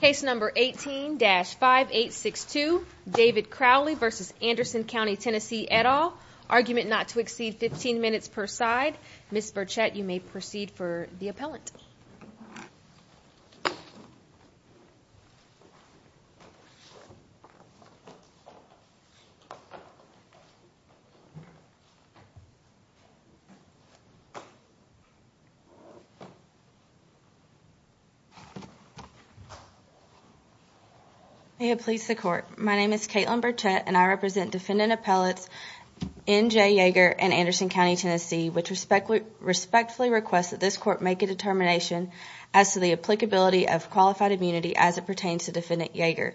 Case number 18-5862, David Crowley v. Anderson County, Tennessee, et al. Argument not to exceed 15 minutes per side. Ms. Burchett, you may proceed for the appellant. May it please the court. My name is Caitlin Burchett and I represent defendant appellates N.J. Yeager and Anderson County, Tennessee, which respectfully request that this court make a determination as to the applicability of qualified immunity as it pertains to defendant Yeager.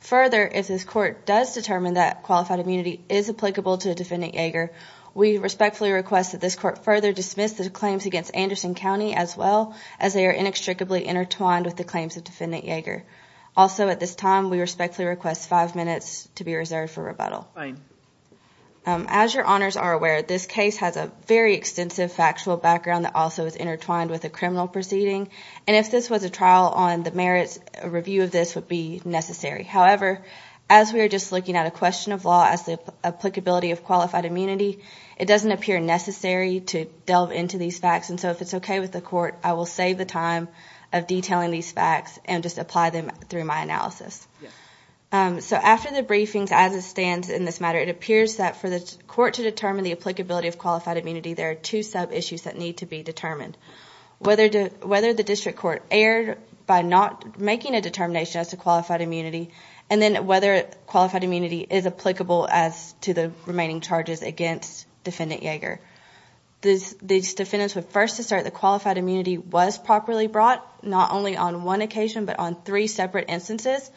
Further, if this court does determine that qualified immunity is applicable to defendant Yeager, we respectfully request that this court further dismiss the claims against Anderson County as well Also, at this time, we respectfully request five minutes to be reserved for rebuttal. As your honors are aware, this case has a very extensive factual background that also is intertwined with a criminal proceeding. And if this was a trial on the merits, a review of this would be necessary. However, as we are just looking at a question of law as the applicability of qualified immunity, it doesn't appear necessary to delve into these facts. And so if it's OK with the court, I will save the time of detailing these facts and just apply them through my analysis. So after the briefings, as it stands in this matter, it appears that for the court to determine the applicability of qualified immunity, there are two sub issues that need to be determined. Whether the district court erred by not making a determination as to qualified immunity, and then whether qualified immunity is applicable as to the remaining charges against defendant Yeager. These defendants would first assert that qualified immunity was properly brought, not only on one occasion, but on three separate instances.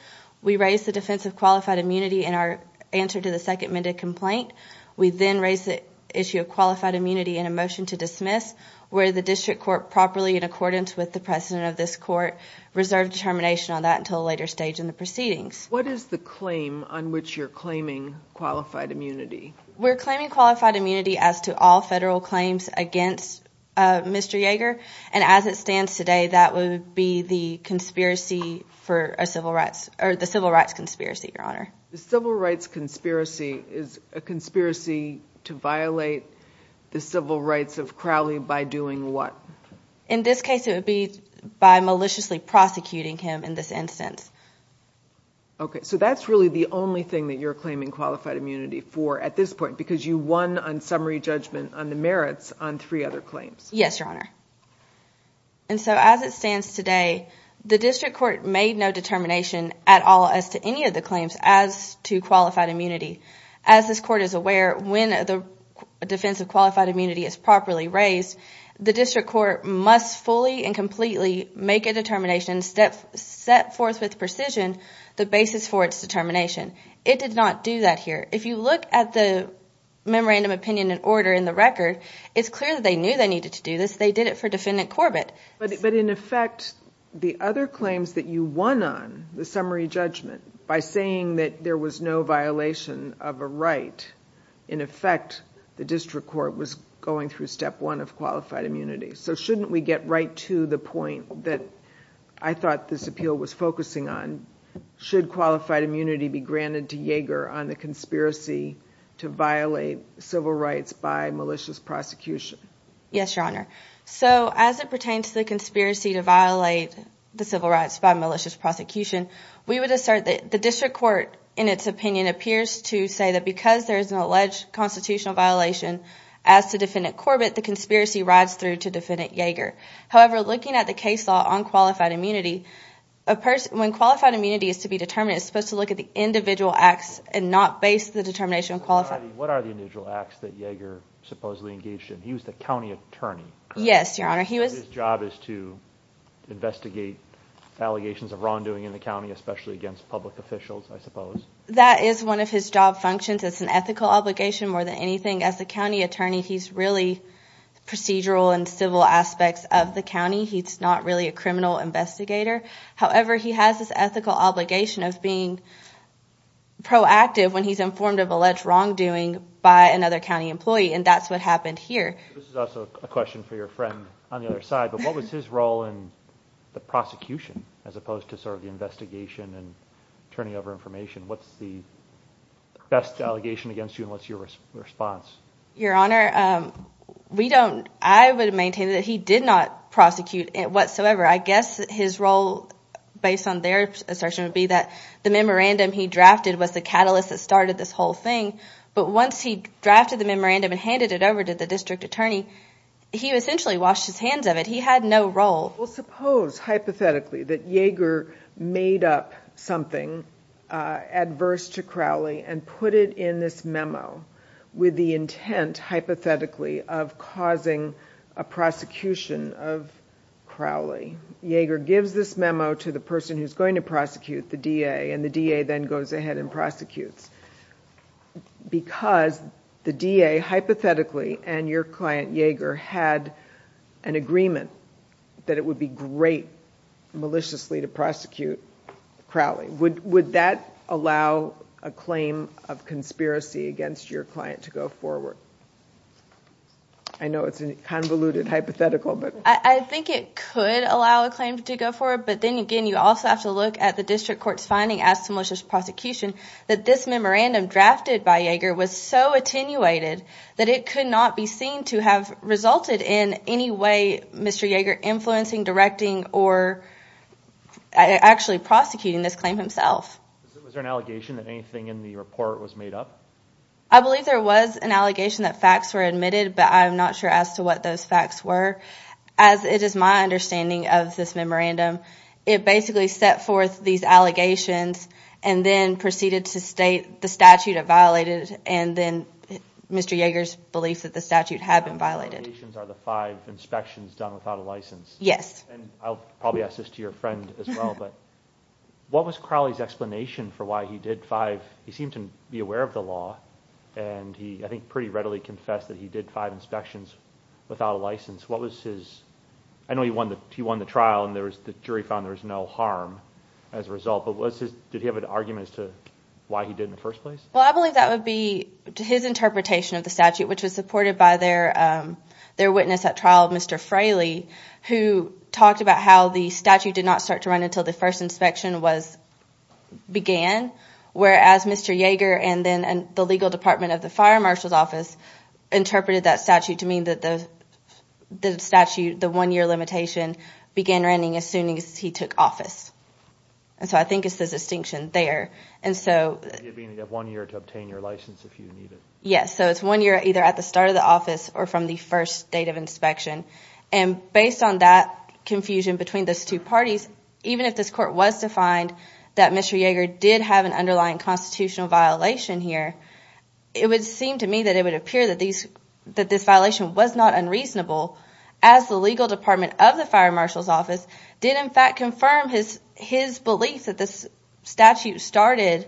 We raise the defense of qualified immunity in our answer to the second minute complaint. We then raise the issue of qualified immunity in a motion to dismiss, where the district court, properly in accordance with the precedent of this court, reserved determination on that until a later stage in the proceedings. What is the claim on which you're claiming qualified immunity? We're claiming qualified immunity as to all federal claims against Mr. Yeager. And as it stands today, that would be the conspiracy for a civil rights or the civil rights conspiracy, Your Honor. The civil rights conspiracy is a conspiracy to violate the civil rights of Crowley by doing what? In this case, it would be by maliciously prosecuting him in this instance. Okay, so that's really the only thing that you're claiming qualified immunity for at this point, because you won on summary judgment on the merits on three other claims. Yes, Your Honor. And so as it stands today, the district court made no determination at all as to any of the claims as to qualified immunity. As this court is aware, when the defense of qualified immunity is properly raised, the district court must fully and completely make a determination, set forth with precision the basis for its determination. It did not do that here. If you look at the memorandum opinion in order in the record, it's clear that they knew they needed to do this. They did it for Defendant Corbett. But in effect, the other claims that you won on, the summary judgment, by saying that there was no violation of a right, in effect, the district court was going through step one of qualified immunity. So shouldn't we get right to the point that I thought this appeal was focusing on? Should qualified immunity be granted to Yeager on the conspiracy to violate civil rights by malicious prosecution? Yes, Your Honor. So as it pertains to the conspiracy to violate the civil rights by malicious prosecution, we would assert that the district court, in its opinion, appears to say that because there is an alleged constitutional violation as to Defendant Corbett, the conspiracy rides through to Defendant Yeager. However, looking at the case law on qualified immunity, when qualified immunity is to be determined, it's supposed to look at the individual acts and not base the determination on qualified immunity. What are the individual acts that Yeager supposedly engaged in? He was the county attorney, correct? Yes, Your Honor. His job is to investigate allegations of wrongdoing in the county, especially against public officials, I suppose. That is one of his job functions. It's an ethical obligation more than anything. As a county attorney, he's really procedural and civil aspects of the county. He's not really a criminal investigator. However, he has this ethical obligation of being proactive when he's informed of alleged wrongdoing by another county employee, and that's what happened here. This is also a question for your friend on the other side, but what was his role in the prosecution as opposed to sort of the investigation and turning over information? What's the best allegation against you and what's your response? Your Honor, I would maintain that he did not prosecute whatsoever. I guess his role, based on their assertion, would be that the memorandum he drafted was the catalyst that started this whole thing, but once he drafted the memorandum and handed it over to the district attorney, he essentially washed his hands of it. He had no role. Well, suppose, hypothetically, that Yeager made up something adverse to Crowley and put it in this memo with the intent, hypothetically, of causing a prosecution of Crowley. Yeager gives this memo to the person who's going to prosecute, the DA, and the DA then goes ahead and prosecutes. Because the DA, hypothetically, and your client, Yeager, had an agreement that it would be great, maliciously, to prosecute Crowley. Would that allow a claim of conspiracy against your client to go forward? I know it's a convoluted hypothetical, but... I think it could allow a claim to go forward, but then, again, you also have to look at the district court's finding, as to malicious prosecution, that this memorandum drafted by Yeager was so attenuated that it could not be seen to have resulted in any way Mr. Yeager influencing, directing, or actually prosecuting this claim himself. Was there an allegation that anything in the report was made up? I believe there was an allegation that facts were admitted, but I'm not sure as to what those facts were. As it is my understanding of this memorandum, it basically set forth these allegations, and then proceeded to state the statute had violated, and then Mr. Yeager's belief that the statute had been violated. The allegations are the five inspections done without a license. Yes. I'll probably ask this to your friend as well, but what was Crowley's explanation for why he did five? He seemed to be aware of the law, and he, I think, pretty readily confessed that he did five inspections without a license. I know he won the trial, and the jury found there was no harm as a result, but did he have an argument as to why he did it in the first place? Well, I believe that would be his interpretation of the statute, which was supported by their witness at trial, Mr. Fraley, who talked about how the statute did not start to run until the first inspection began, whereas Mr. Yeager and then the legal department of the fire marshal's office interpreted that statute to mean that the statute, the one-year limitation, began running as soon as he took office. And so I think it's the distinction there. You mean you have one year to obtain your license if you need it. Yes. So it's one year either at the start of the office or from the first date of inspection. And based on that confusion between those two parties, even if this court was to find that Mr. Yeager did have an underlying constitutional violation here, it would seem to me that it would appear that this violation was not unreasonable as the legal department of the fire marshal's office did, in fact, confirm his belief that this statute started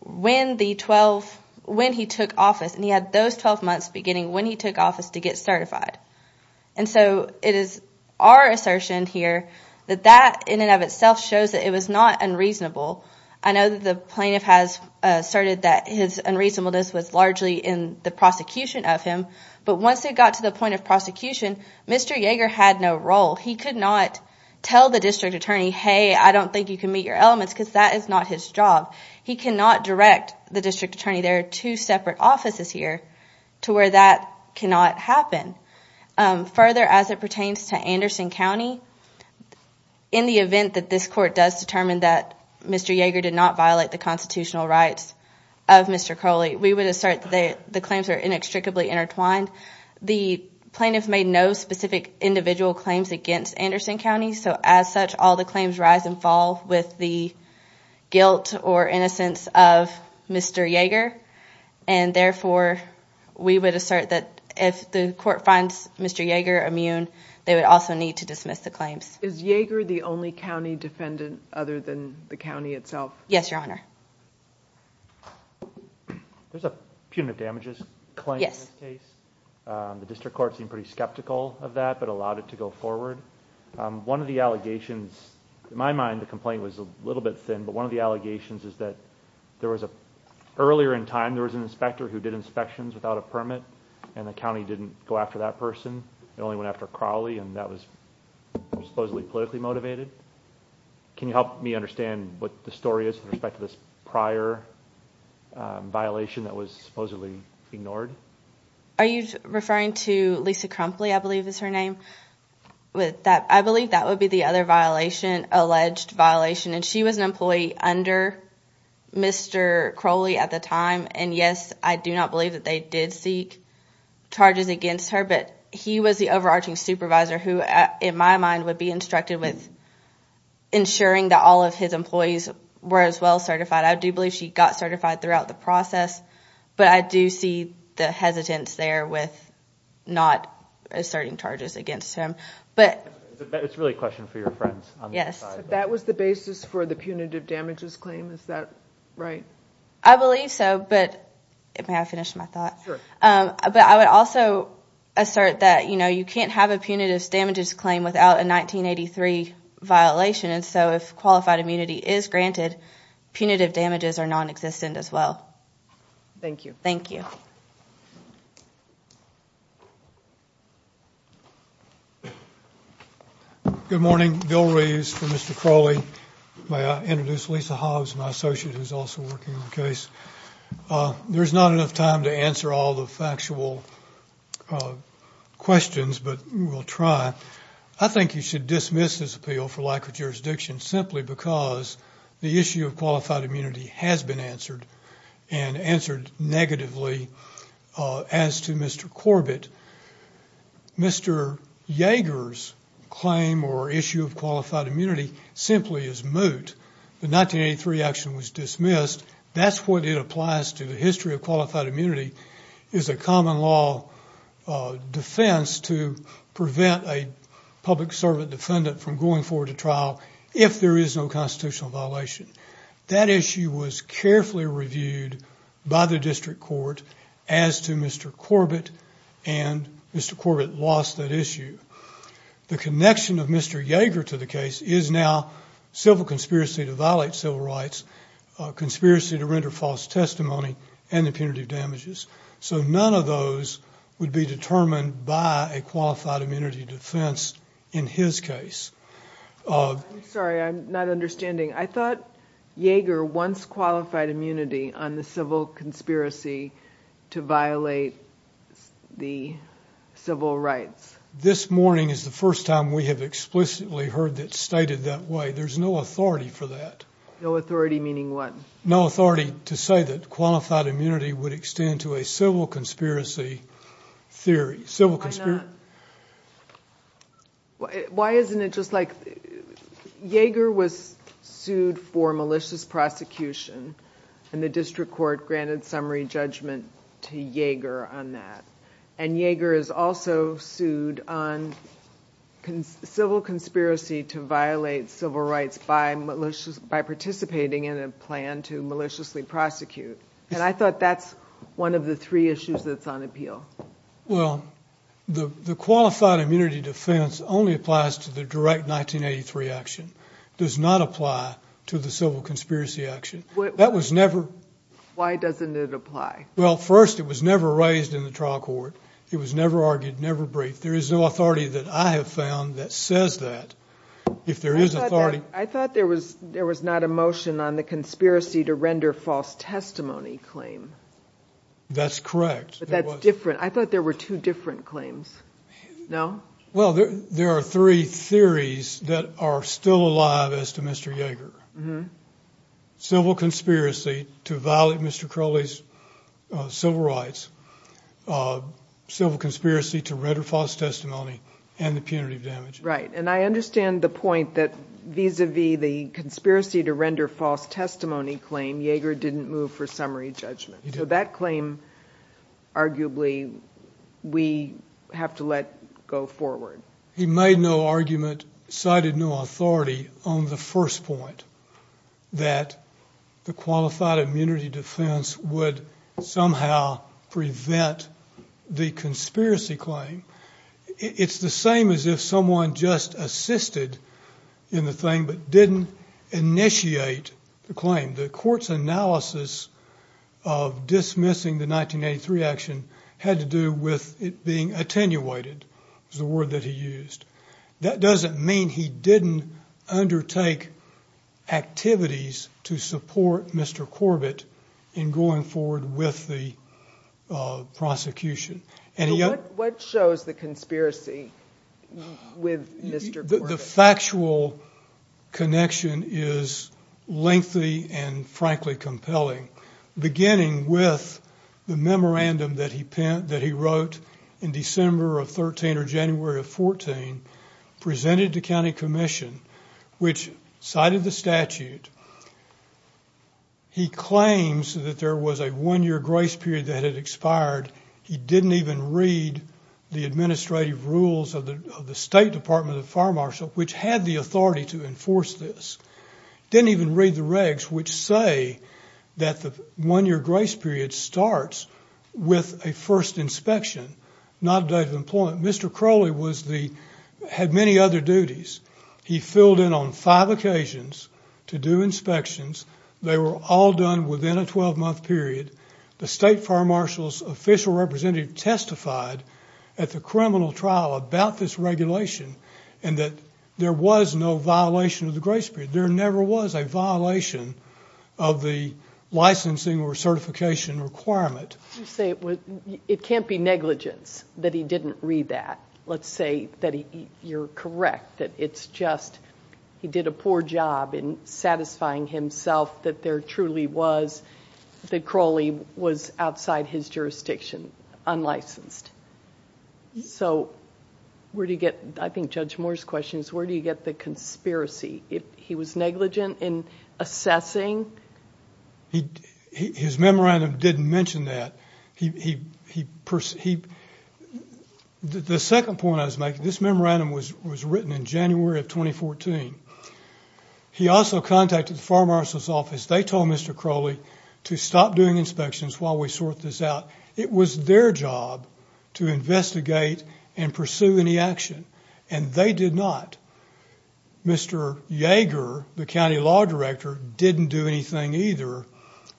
when he took office, and he had those 12 months beginning when he took office to get certified. And so it is our assertion here that that in and of itself shows that it was not unreasonable. I know that the plaintiff has asserted that his unreasonableness was largely in the prosecution of him, but once it got to the point of prosecution, Mr. Yeager had no role. He could not tell the district attorney, hey, I don't think you can meet your elements, because that is not his job. He cannot direct the district attorney. There are two separate offices here to where that cannot happen. Further, as it pertains to Anderson County, in the event that this court does determine that Mr. Yeager did not violate the constitutional rights of Mr. Coley, we would assert that the claims are inextricably intertwined. The plaintiff made no specific individual claims against Anderson County, so as such all the claims rise and fall with the guilt or innocence of Mr. Yeager, and therefore we would assert that if the court finds Mr. Yeager immune, they would also need to dismiss the claims. Is Yeager the only county defendant other than the county itself? Yes, Your Honor. There's a punitive damages claim in this case. The district court seemed pretty skeptical of that but allowed it to go forward. One of the allegations, in my mind the complaint was a little bit thin, but one of the allegations is that earlier in time there was an inspector who did inspections without a permit, and the county didn't go after that person, it only went after Crowley, and that was supposedly politically motivated. Can you help me understand what the story is with respect to this prior violation that was supposedly ignored? Are you referring to Lisa Crumpley, I believe is her name? I believe that would be the other violation, alleged violation, and she was an employee under Mr. Crowley at the time, and, yes, I do not believe that they did seek charges against her, but he was the overarching supervisor who, in my mind, would be instructed with ensuring that all of his employees were as well certified. I do believe she got certified throughout the process, but I do see the hesitance there with not asserting charges against him. It's really a question for your friends. Yes. That was the basis for the punitive damages claim, is that right? I believe so, but may I finish my thought? Sure. But I would also assert that, you know, you can't have a punitive damages claim without a 1983 violation, and so if qualified immunity is granted, punitive damages are nonexistent as well. Thank you. Thank you. Good morning. Bill Reeves for Mr. Crowley. May I introduce Lisa Hobbs, my associate who's also working on the case? There's not enough time to answer all the factual questions, but we'll try. I think you should dismiss this appeal for lack of jurisdiction simply because the issue of qualified immunity has been answered and answered negatively as to Mr. Corbett. Mr. Yeager's claim or issue of qualified immunity simply is moot. The 1983 action was dismissed. That's what it applies to. The history of qualified immunity is a common law defense to prevent a public servant defendant from going forward to trial if there is no constitutional violation. That issue was carefully reviewed by the district court as to Mr. Corbett and Mr. Corbett lost that issue. The connection of Mr. Yeager to the case is now civil conspiracy to violate civil rights, conspiracy to render false testimony, and impunitive damages. So none of those would be determined by a qualified immunity defense in his case. I'm sorry, I'm not understanding. I thought Yeager once qualified immunity on the civil conspiracy to violate the civil rights. This morning is the first time we have explicitly heard that stated that way. There's no authority for that. No authority meaning what? No authority to say that qualified immunity would extend to a civil conspiracy theory. Why not? Why isn't it just like Yeager was sued for malicious prosecution and the district court granted summary judgment to Yeager on that. Yeager is also sued on civil conspiracy to violate civil rights by participating in a plan to maliciously prosecute. I thought that's one of the three issues that's on appeal. Well, the qualified immunity defense only applies to the direct 1983 action. It does not apply to the civil conspiracy action. That was never. Why doesn't it apply? Well, first, it was never raised in the trial court. It was never argued, never briefed. There is no authority that I have found that says that. I thought there was not a motion on the conspiracy to render false testimony claim. That's correct. But that's different. I thought there were two different claims. No? Well, there are three theories that are still alive as to Mr. Yeager. Civil conspiracy to violate Mr. Crowley's civil rights, civil conspiracy to render false testimony, and the punitive damage. Right. And I understand the point that vis-à-vis the conspiracy to render false testimony claim, Yeager didn't move for summary judgment. So that claim, arguably, we have to let go forward. He made no argument, cited no authority on the first point, that the qualified immunity defense would somehow prevent the conspiracy claim. It's the same as if someone just assisted in the thing but didn't initiate the claim. The court's analysis of dismissing the 1983 action had to do with it being attenuated, was the word that he used. That doesn't mean he didn't undertake activities to support Mr. Corbett in going forward with the prosecution. What shows the conspiracy with Mr. Corbett? The factual connection is lengthy and, frankly, compelling, beginning with the memorandum that he wrote in December of 13 or January of 14, presented to county commission, which cited the statute. He claims that there was a one-year grace period that had expired. He didn't even read the administrative rules of the State Department of Fire Marshall, which had the authority to enforce this. Didn't even read the regs which say that the one-year grace period starts with a first inspection, not a date of employment. Mr. Crowley had many other duties. He filled in on five occasions to do inspections. They were all done within a 12-month period. The State Fire Marshall's official representative testified at the criminal trial about this regulation and that there was no violation of the grace period. There never was a violation of the licensing or certification requirement. You say it can't be negligence that he didn't read that. Let's say that you're correct, that it's just he did a poor job in satisfying himself that there truly was, that Crowley was outside his jurisdiction, unlicensed. So where do you get, I think Judge Moore's question is, where do you get the conspiracy? If he was negligent in assessing? His memorandum didn't mention that. The second point I was making, this memorandum was written in January of 2014. He also contacted the Fire Marshal's office. They told Mr. Crowley to stop doing inspections while we sort this out. It was their job to investigate and pursue any action, and they did not. Mr. Yeager, the county law director, didn't do anything either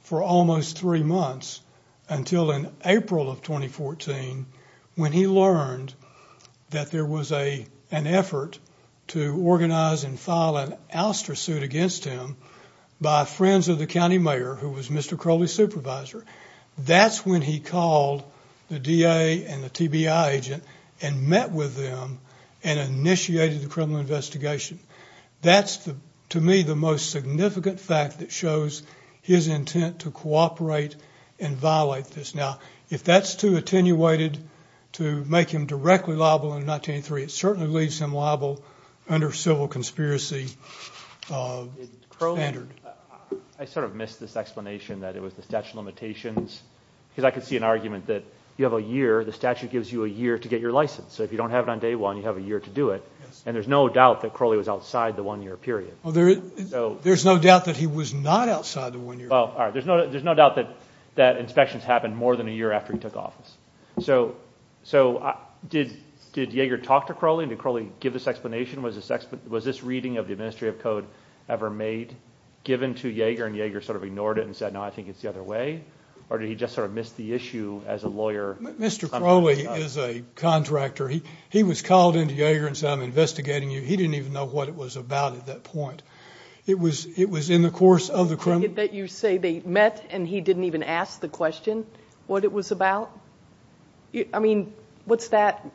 for almost three months until in April of 2014 when he learned that there was an effort to organize and file an ouster suit against him by friends of the county mayor, who was Mr. Crowley's supervisor. That's when he called the DA and the TBI agent and met with them and initiated the criminal investigation. That's, to me, the most significant fact that shows his intent to cooperate and violate this. Now, if that's too attenuated to make him directly liable in 1983, it certainly leaves him liable under civil conspiracy standard. Crowley, I sort of missed this explanation that it was the statute of limitations because I could see an argument that you have a year, the statute gives you a year to get your license. So if you don't have it on day one, you have a year to do it. And there's no doubt that Crowley was outside the one-year period. There's no doubt that he was not outside the one-year period. All right. There's no doubt that inspections happened more than a year after he took office. So did Yeager talk to Crowley? Did Crowley give this explanation? Was this reading of the Administrative Code ever made, given to Yeager, and Yeager sort of ignored it and said, no, I think it's the other way? Or did he just sort of miss the issue as a lawyer? Mr. Crowley is a contractor. He was called in to Yeager and said, I'm investigating you. He didn't even know what it was about at that point. It was in the course of the criminal process. Did you say they met and he didn't even ask the question what it was about? I mean, what's that,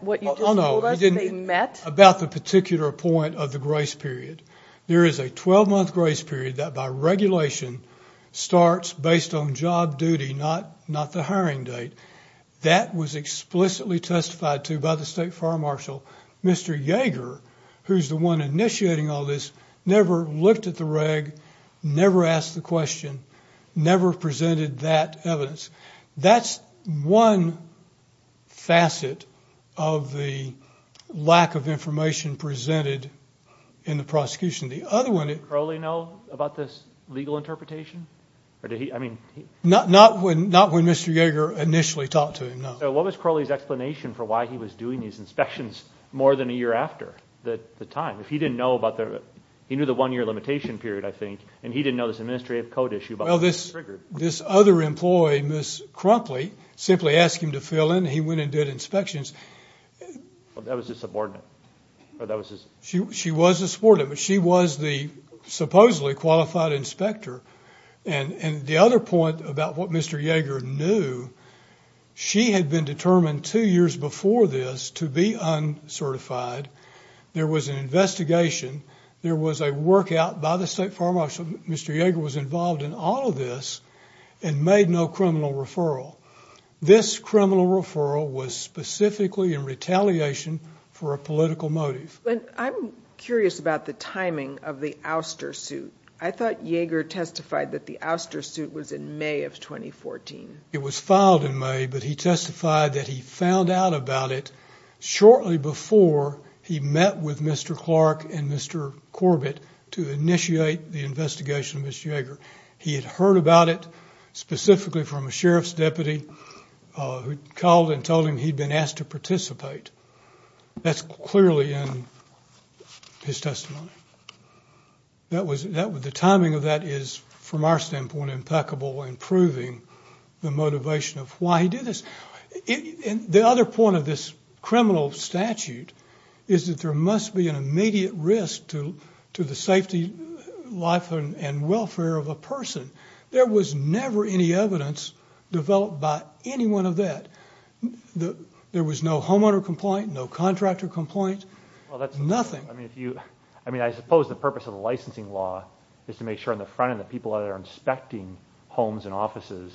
what you just told us, they met? About the particular point of the grace period. There is a 12-month grace period that by regulation starts based on job duty, not the hiring date. That was explicitly testified to by the State Fire Marshal. Mr. Yeager, who's the one initiating all this, never looked at the reg, never asked the question, never presented that evidence. That's one facet of the lack of information presented in the prosecution. Did Crowley know about this legal interpretation? Not when Mr. Yeager initially talked to him, no. What was Crowley's explanation for why he was doing these inspections more than a year after the time? He knew the one-year limitation period, I think, and he didn't know this administrative code issue about the trigger. This other employee, Ms. Crumpley, simply asked him to fill in. He went and did inspections. That was his subordinate. She was the subordinate, but she was the supposedly qualified inspector. And the other point about what Mr. Yeager knew, she had been determined two years before this to be uncertified. There was an investigation. There was a work out by the State Fire Marshal. Mr. Yeager was involved in all of this and made no criminal referral. This criminal referral was specifically in retaliation for a political motive. I'm curious about the timing of the ouster suit. I thought Yeager testified that the ouster suit was in May of 2014. It was filed in May, but he testified that he found out about it shortly before he met with Mr. Clark and Mr. Corbett to initiate the investigation of Ms. Yeager. He had heard about it specifically from a sheriff's deputy who called and told him he'd been asked to participate. That's clearly in his testimony. The timing of that is, from our standpoint, impeccable in proving the motivation of why he did this. The other point of this criminal statute is that there must be an immediate risk to the safety, life, and welfare of a person. There was never any evidence developed by anyone of that. There was no homeowner complaint, no contractor complaint, nothing. I suppose the purpose of the licensing law is to make sure on the front end that people that are inspecting homes and offices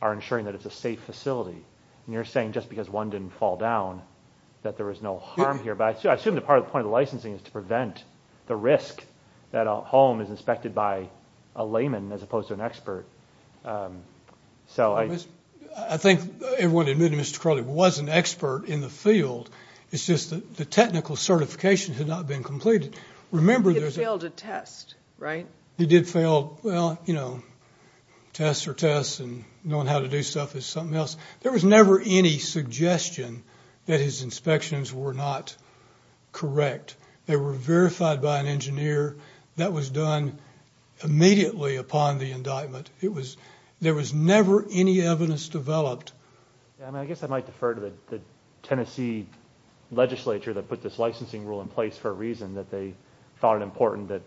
are ensuring that it's a safe facility. You're saying just because one didn't fall down that there was no harm here. I assume that part of the point of the licensing is to prevent the risk that a home is inspected by a layman as opposed to an expert. I think everyone admitted Mr. Crowley was an expert in the field. It's just that the technical certification had not been completed. He had failed a test, right? He did fail tests or tests and knowing how to do stuff is something else. There was never any suggestion that his inspections were not correct. They were verified by an engineer. That was done immediately upon the indictment. There was never any evidence developed. I guess I might defer to the Tennessee legislature that put this licensing rule in place for a reason that they thought it important that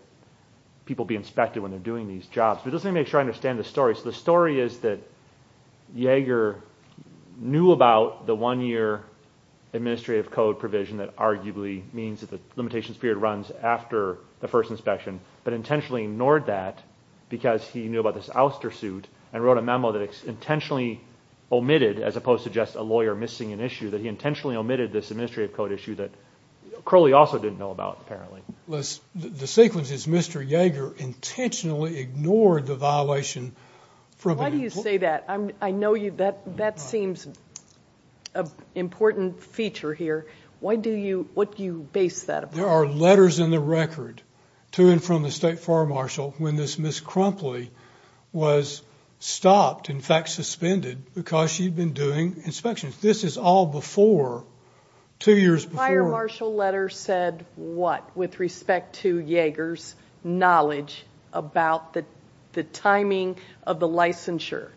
people be inspected when they're doing these jobs. But just to make sure I understand the story. So the story is that Yeager knew about the one-year administrative code provision that arguably means that the limitations period runs after the first inspection but intentionally ignored that because he knew about this ouster suit and wrote a memo that intentionally omitted, as opposed to just a lawyer missing an issue, that he intentionally omitted this administrative code issue that Crowley also didn't know about apparently. The sequence is Mr. Yeager intentionally ignored the violation. Why do you say that? I know that seems an important feature here. What do you base that upon? There are letters in the record to and from the state fire marshal when this Ms. Crumpley was stopped, in fact suspended, because she'd been doing inspections. This is all before, two years before. The state fire marshal letter said what with respect to Yeager's knowledge about the timing of the licensure?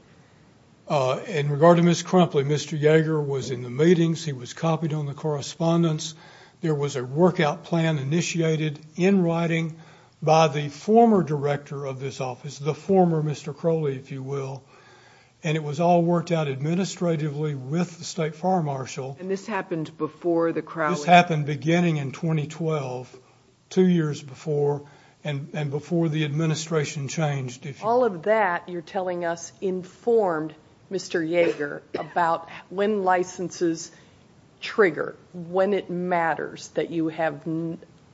In regard to Ms. Crumpley, Mr. Yeager was in the meetings. He was copied on the correspondence. There was a workout plan initiated in writing by the former director of this office, the former Mr. Crowley, if you will, and it was all worked out administratively with the state fire marshal. And this happened before the Crowley? This happened beginning in 2012, two years before, and before the administration changed. All of that you're telling us informed Mr. Yeager about when licenses trigger, when it matters that you have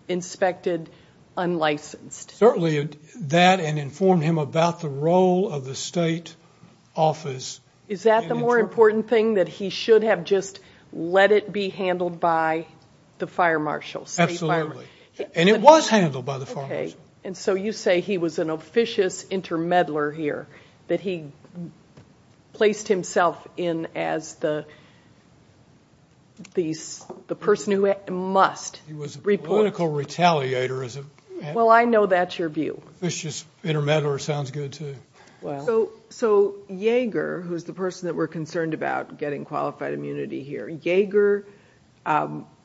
inspected unlicensed. Certainly that, and informed him about the role of the state office. Is that the more important thing, that he should have just let it be handled by the fire marshal? Absolutely, and it was handled by the fire marshal. Okay, and so you say he was an officious intermeddler here, that he placed himself in as the person who must report. He was a political retaliator. Well, I know that's your view. Officious intermeddler sounds good, too. So Yeager, who's the person that we're concerned about getting qualified immunity here, Yeager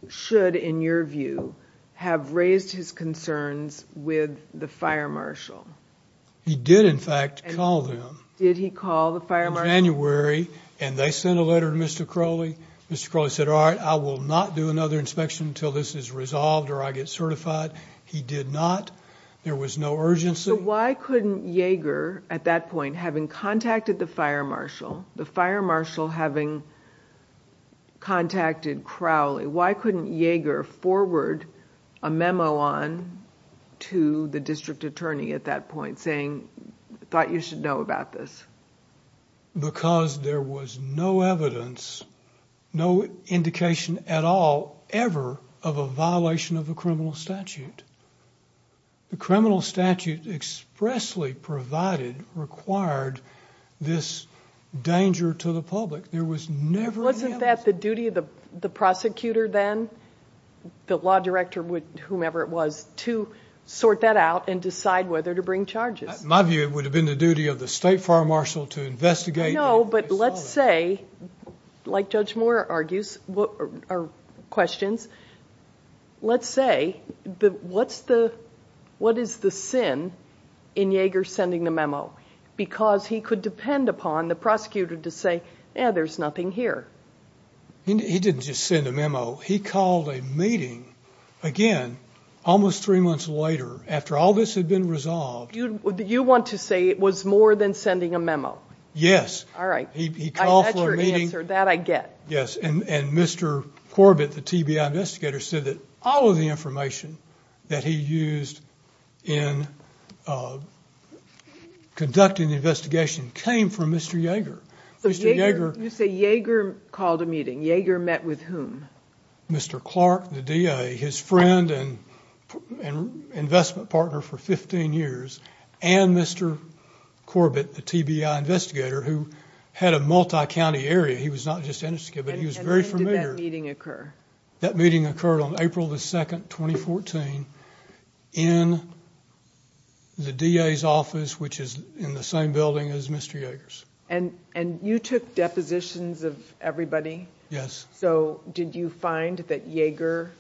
should, in your view, have raised his concerns with the fire marshal. He did, in fact, call them. Did he call the fire marshal? In January, and they sent a letter to Mr. Crowley. Mr. Crowley said, all right, I will not do another inspection until this is resolved or I get certified. He did not. There was no urgency. So why couldn't Yeager, at that point, having contacted the fire marshal, the fire marshal having contacted Crowley, why couldn't Yeager forward a memo on to the district attorney at that point saying, thought you should know about this? Because there was no evidence, no indication at all, ever, of a violation of a criminal statute. The criminal statute expressly provided, required this danger to the public. There was never an evidence. Wasn't that the duty of the prosecutor then, the law director, whomever it was, to sort that out and decide whether to bring charges? In my view, it would have been the duty of the state fire marshal to investigate and resolve it. I know, but let's say, like Judge Moore argues or questions, let's say, what is the sin in Yeager sending the memo? Because he could depend upon the prosecutor to say, yeah, there's nothing here. He didn't just send a memo. He called a meeting, again, almost three months later, after all this had been resolved. You want to say it was more than sending a memo? Yes. All right. He called for a meeting. That's your answer. That I get. Yes, and Mr. Corbett, the TBI investigator, said that all of the information that he used in conducting the investigation came from Mr. Yeager. You say Yeager called a meeting. Yeager met with whom? Mr. Clark, the DA, his friend and investment partner for 15 years, and Mr. Corbett, the TBI investigator, who had a multi-county area. He was not just an investigator, but he was very familiar. When did that meeting occur? That meeting occurred on April 2, 2014, in the DA's office, which is in the same building as Mr. Yeager's. And you took depositions of everybody? Yes. So did you find that Yeager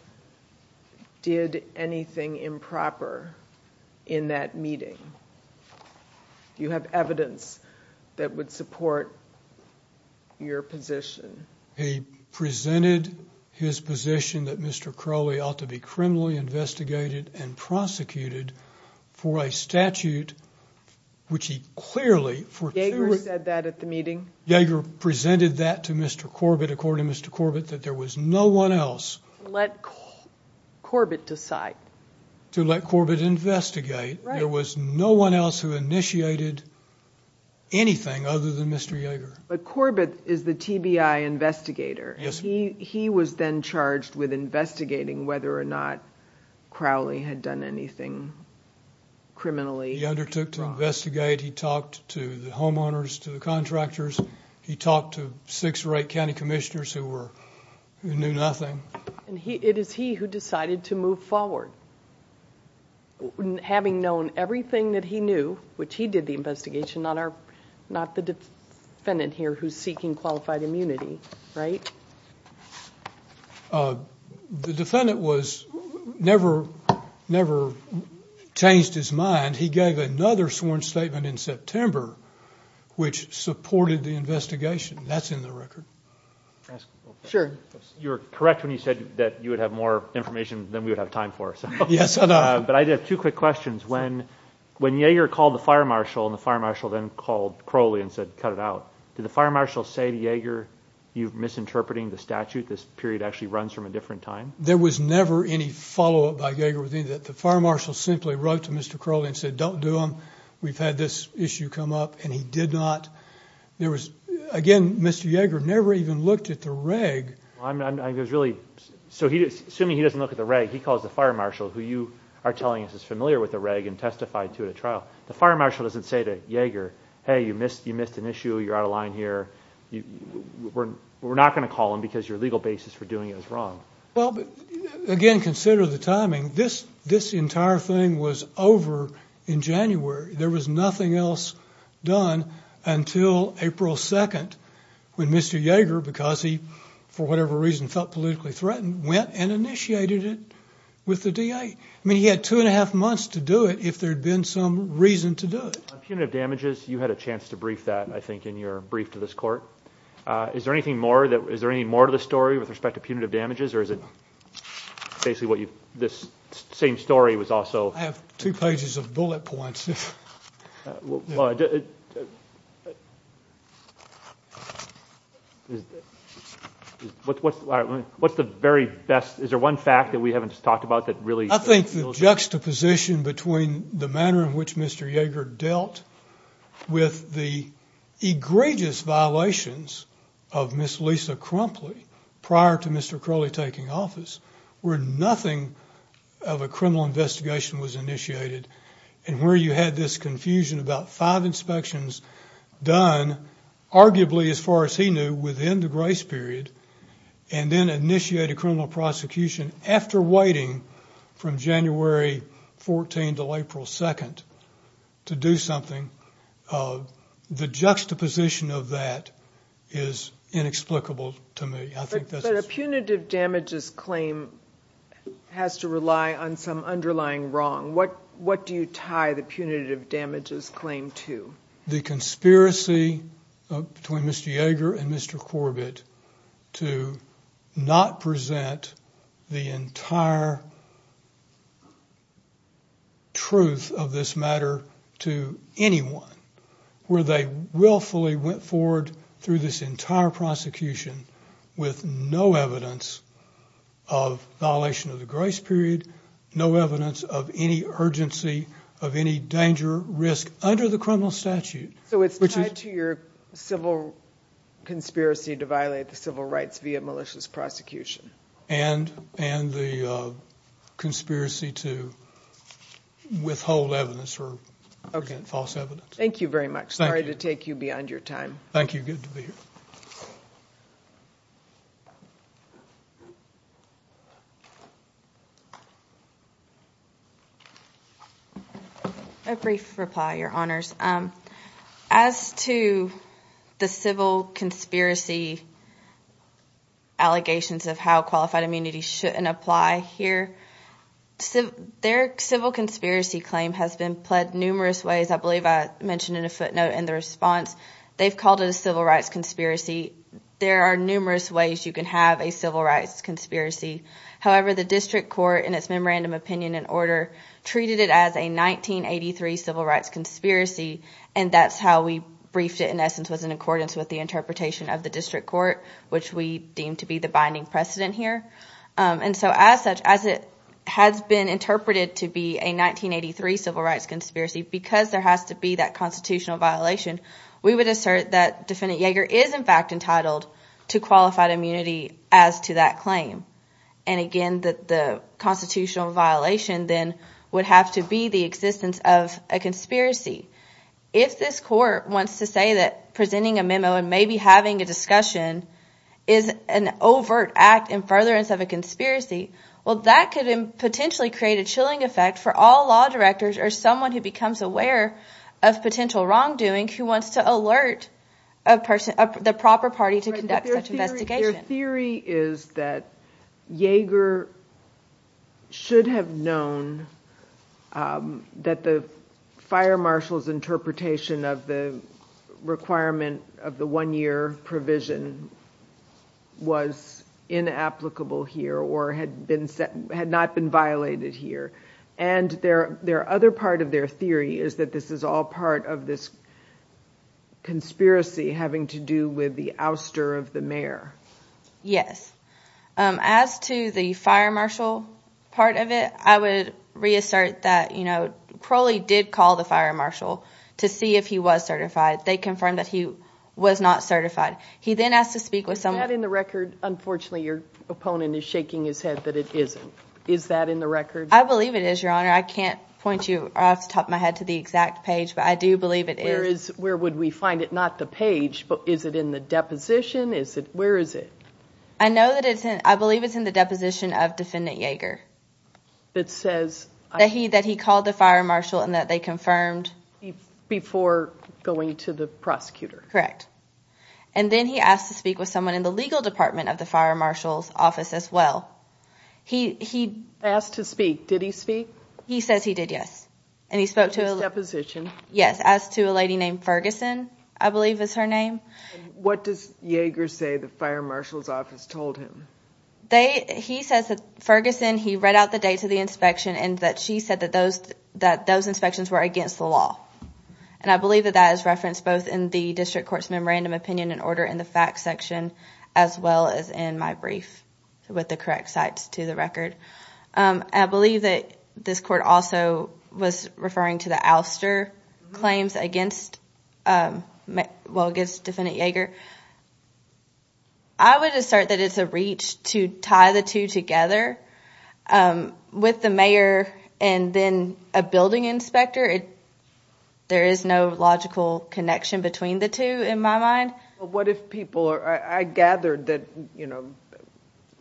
did anything improper in that meeting? Do you have evidence that would support your position? He presented his position that Mr. Crowley ought to be criminally investigated and prosecuted for a statute which he clearly, for two weeks. Yeager said that at the meeting? Yeager presented that to Mr. Corbett, according to Mr. Corbett, that there was no one else. Let Corbett decide. To let Corbett investigate. There was no one else who initiated anything other than Mr. Yeager. But Corbett is the TBI investigator. He was then charged with investigating whether or not Crowley had done anything criminally wrong. He undertook to investigate. He talked to the homeowners, to the contractors. He talked to six or eight county commissioners who knew nothing. It is he who decided to move forward. Having known everything that he knew, which he did the investigation, not the defendant here who is seeking qualified immunity, right? The defendant never changed his mind. He gave another sworn statement in September which supported the investigation. That is in the record. You are correct when you said that you would have more information than we would have time for. Yes, I know. I have two quick questions. When Yeager called the fire marshal and the fire marshal then called Crowley and said cut it out, did the fire marshal say to Yeager you are misinterpreting the statute? This period actually runs from a different time. There was never any follow-up by Yeager. The fire marshal simply wrote to Mr. Crowley and said don't do them. We have had this issue come up and he did not. Again, Mr. Yeager never even looked at the reg. Assuming he doesn't look at the reg, he calls the fire marshal, who you are telling us is familiar with the reg and testified to it at trial. The fire marshal doesn't say to Yeager, hey, you missed an issue, you're out of line here. We're not going to call him because your legal basis for doing it is wrong. Again, consider the timing. This entire thing was over in January. There was nothing else done until April 2nd when Mr. Yeager, because he for whatever reason felt politically threatened, went and initiated it with the DA. I mean he had two and a half months to do it if there had been some reason to do it. On punitive damages, you had a chance to brief that, I think, in your brief to this court. Is there anything more to the story with respect to punitive damages or is it basically this same story was also? I have two pages of bullet points. What's the very best? Is there one fact that we haven't talked about that really? I think the juxtaposition between the manner in which Mr. Yeager dealt with the egregious violations of Ms. Lisa Crumpley prior to Mr. Crowley taking office where nothing of a criminal investigation was initiated and where you had this confusion about five inspections done, arguably as far as he knew, within the grace period and then initiate a criminal prosecution after waiting from January 14th until April 2nd to do something. The juxtaposition of that is inexplicable to me. But a punitive damages claim has to rely on some underlying wrong. What do you tie the punitive damages claim to? The conspiracy between Mr. Yeager and Mr. Corbett to not present the entire truth of this matter to anyone where they willfully went forward through this entire prosecution with no evidence of violation of the grace period, no evidence of any urgency of any danger, risk under the criminal statute. So it's tied to your civil conspiracy to violate the civil rights via malicious prosecution. And the conspiracy to withhold evidence or present false evidence. Thank you very much. Sorry to take you beyond your time. Thank you. Good to be here. A brief reply, Your Honors. As to the civil conspiracy allegations of how qualified immunity shouldn't apply here, their civil conspiracy claim has been pled numerous ways. I believe I mentioned in a footnote in the response they've called it a civil rights conspiracy. There are numerous ways you can have a civil rights conspiracy. However, the district court in its memorandum opinion and order treated it as a 1983 civil rights conspiracy. And that's how we briefed it, in essence, was in accordance with the interpretation of the district court, which we deem to be the binding precedent here. And so as such, as it has been interpreted to be a 1983 civil rights conspiracy, because there has to be that constitutional violation, we would assert that defendant Yeager is, in fact, entitled to qualified immunity as to that claim. And again, that the constitutional violation then would have to be the existence of a conspiracy. If this court wants to say that presenting a memo and maybe having a discussion is an overt act in furtherance of a conspiracy. Well, that could potentially create a chilling effect for all law directors or someone who becomes aware of potential wrongdoing who wants to alert the proper party to conduct such an investigation. Your theory is that Yeager should have known that the fire marshal's interpretation of the requirement of the one year provision was inapplicable here or had not been violated here. And their other part of their theory is that this is all part of this conspiracy having to do with the ouster of the mayor. Yes. As to the fire marshal part of it, I would reassert that Crowley did call the fire marshal to see if he was certified. They confirmed that he was not certified. He then asked to speak with someone. Is that in the record? Unfortunately, your opponent is shaking his head that it isn't. Is that in the record? I believe it is, Your Honor. I can't point you off the top of my head to the exact page, but I do believe it is. Where would we find it? Not the page, but is it in the deposition? Where is it? I believe it's in the deposition of Defendant Yeager that he called the fire marshal and that they confirmed. Before going to the prosecutor. Correct. And then he asked to speak with someone in the legal department of the fire marshal's office as well. He asked to speak. Did he speak? He says he did, yes. In his deposition? Yes, as to a lady named Ferguson, I believe is her name. What does Yeager say the fire marshal's office told him? He says that Ferguson read out the dates of the inspection and that she said that those inspections were against the law. I believe that that is referenced both in the District Court's Memorandum of Opinion and Order in the facts section as well as in my brief with the correct sites to the record. I believe that this court also was referring to the ouster claims against Defendant Yeager. I would assert that it's a reach to tie the two together. With the mayor and then a building inspector, there is no logical connection between the two in my mind. I gathered that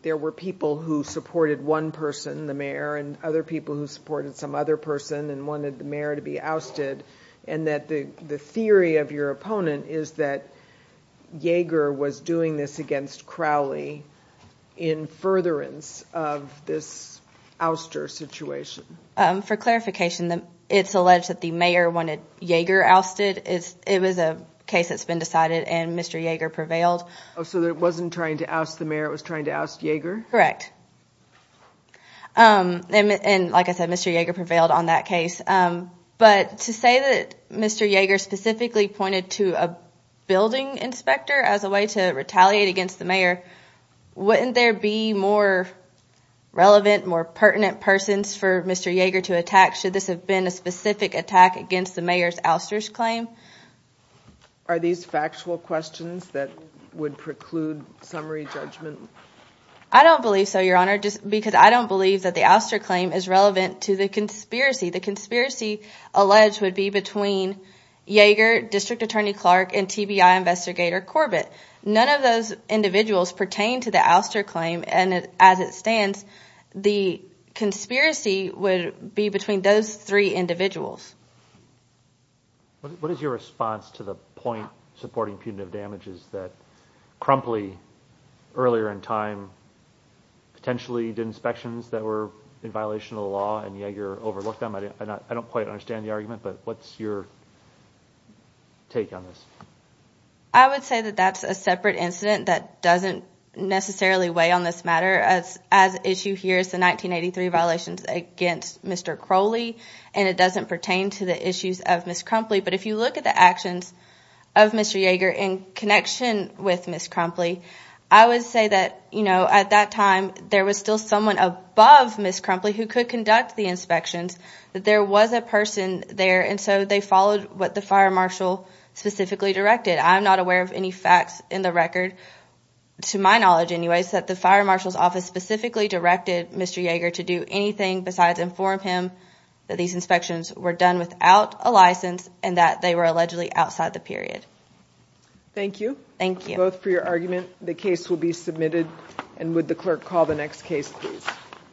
there were people who supported one person, the mayor, and other people who supported some other person and wanted the mayor to be ousted. The theory of your opponent is that Yeager was doing this against Crowley in furtherance of this ouster situation. For clarification, it's alleged that the mayor wanted Yeager ousted. It was a case that's been decided and Mr. Yeager prevailed. So it wasn't trying to oust the mayor, it was trying to oust Yeager? Correct. Like I said, Mr. Yeager prevailed on that case. But to say that Mr. Yeager specifically pointed to a building inspector as a way to retaliate against the mayor, wouldn't there be more relevant, more pertinent persons for Mr. Yeager to attack should this have been a specific attack against the mayor's ouster claim? Are these factual questions that would preclude summary judgment? I don't believe so, Your Honor, because I don't believe that the ouster claim is relevant to the conspiracy. The conspiracy alleged would be between Yeager, District Attorney Clark, and TBI investigator Corbett. None of those individuals pertain to the ouster claim, and as it stands, the conspiracy would be between those three individuals. What is your response to the point supporting punitive damages that Crumpley, earlier in time, potentially did inspections that were in violation of the law and Yeager overlooked them? I don't quite understand the argument, but what's your take on this? I would say that that's a separate incident that doesn't necessarily weigh on this matter, as issue here is the 1983 violations against Mr. Crowley, and it doesn't pertain to the issues of Ms. Crumpley. But if you look at the actions of Mr. Yeager in connection with Ms. Crumpley, I would say that, you know, at that time, there was still someone above Ms. Crumpley who could conduct the inspections. There was a person there, and so they followed what the fire marshal specifically directed. I'm not aware of any facts in the record, to my knowledge anyways, that the fire marshal's office specifically directed Mr. Yeager to do anything besides inform him that these inspections were done without a license and that they were allegedly outside the period. Thank you. Thank you. Both for your argument. The case will be submitted, and would the clerk call the next case, please?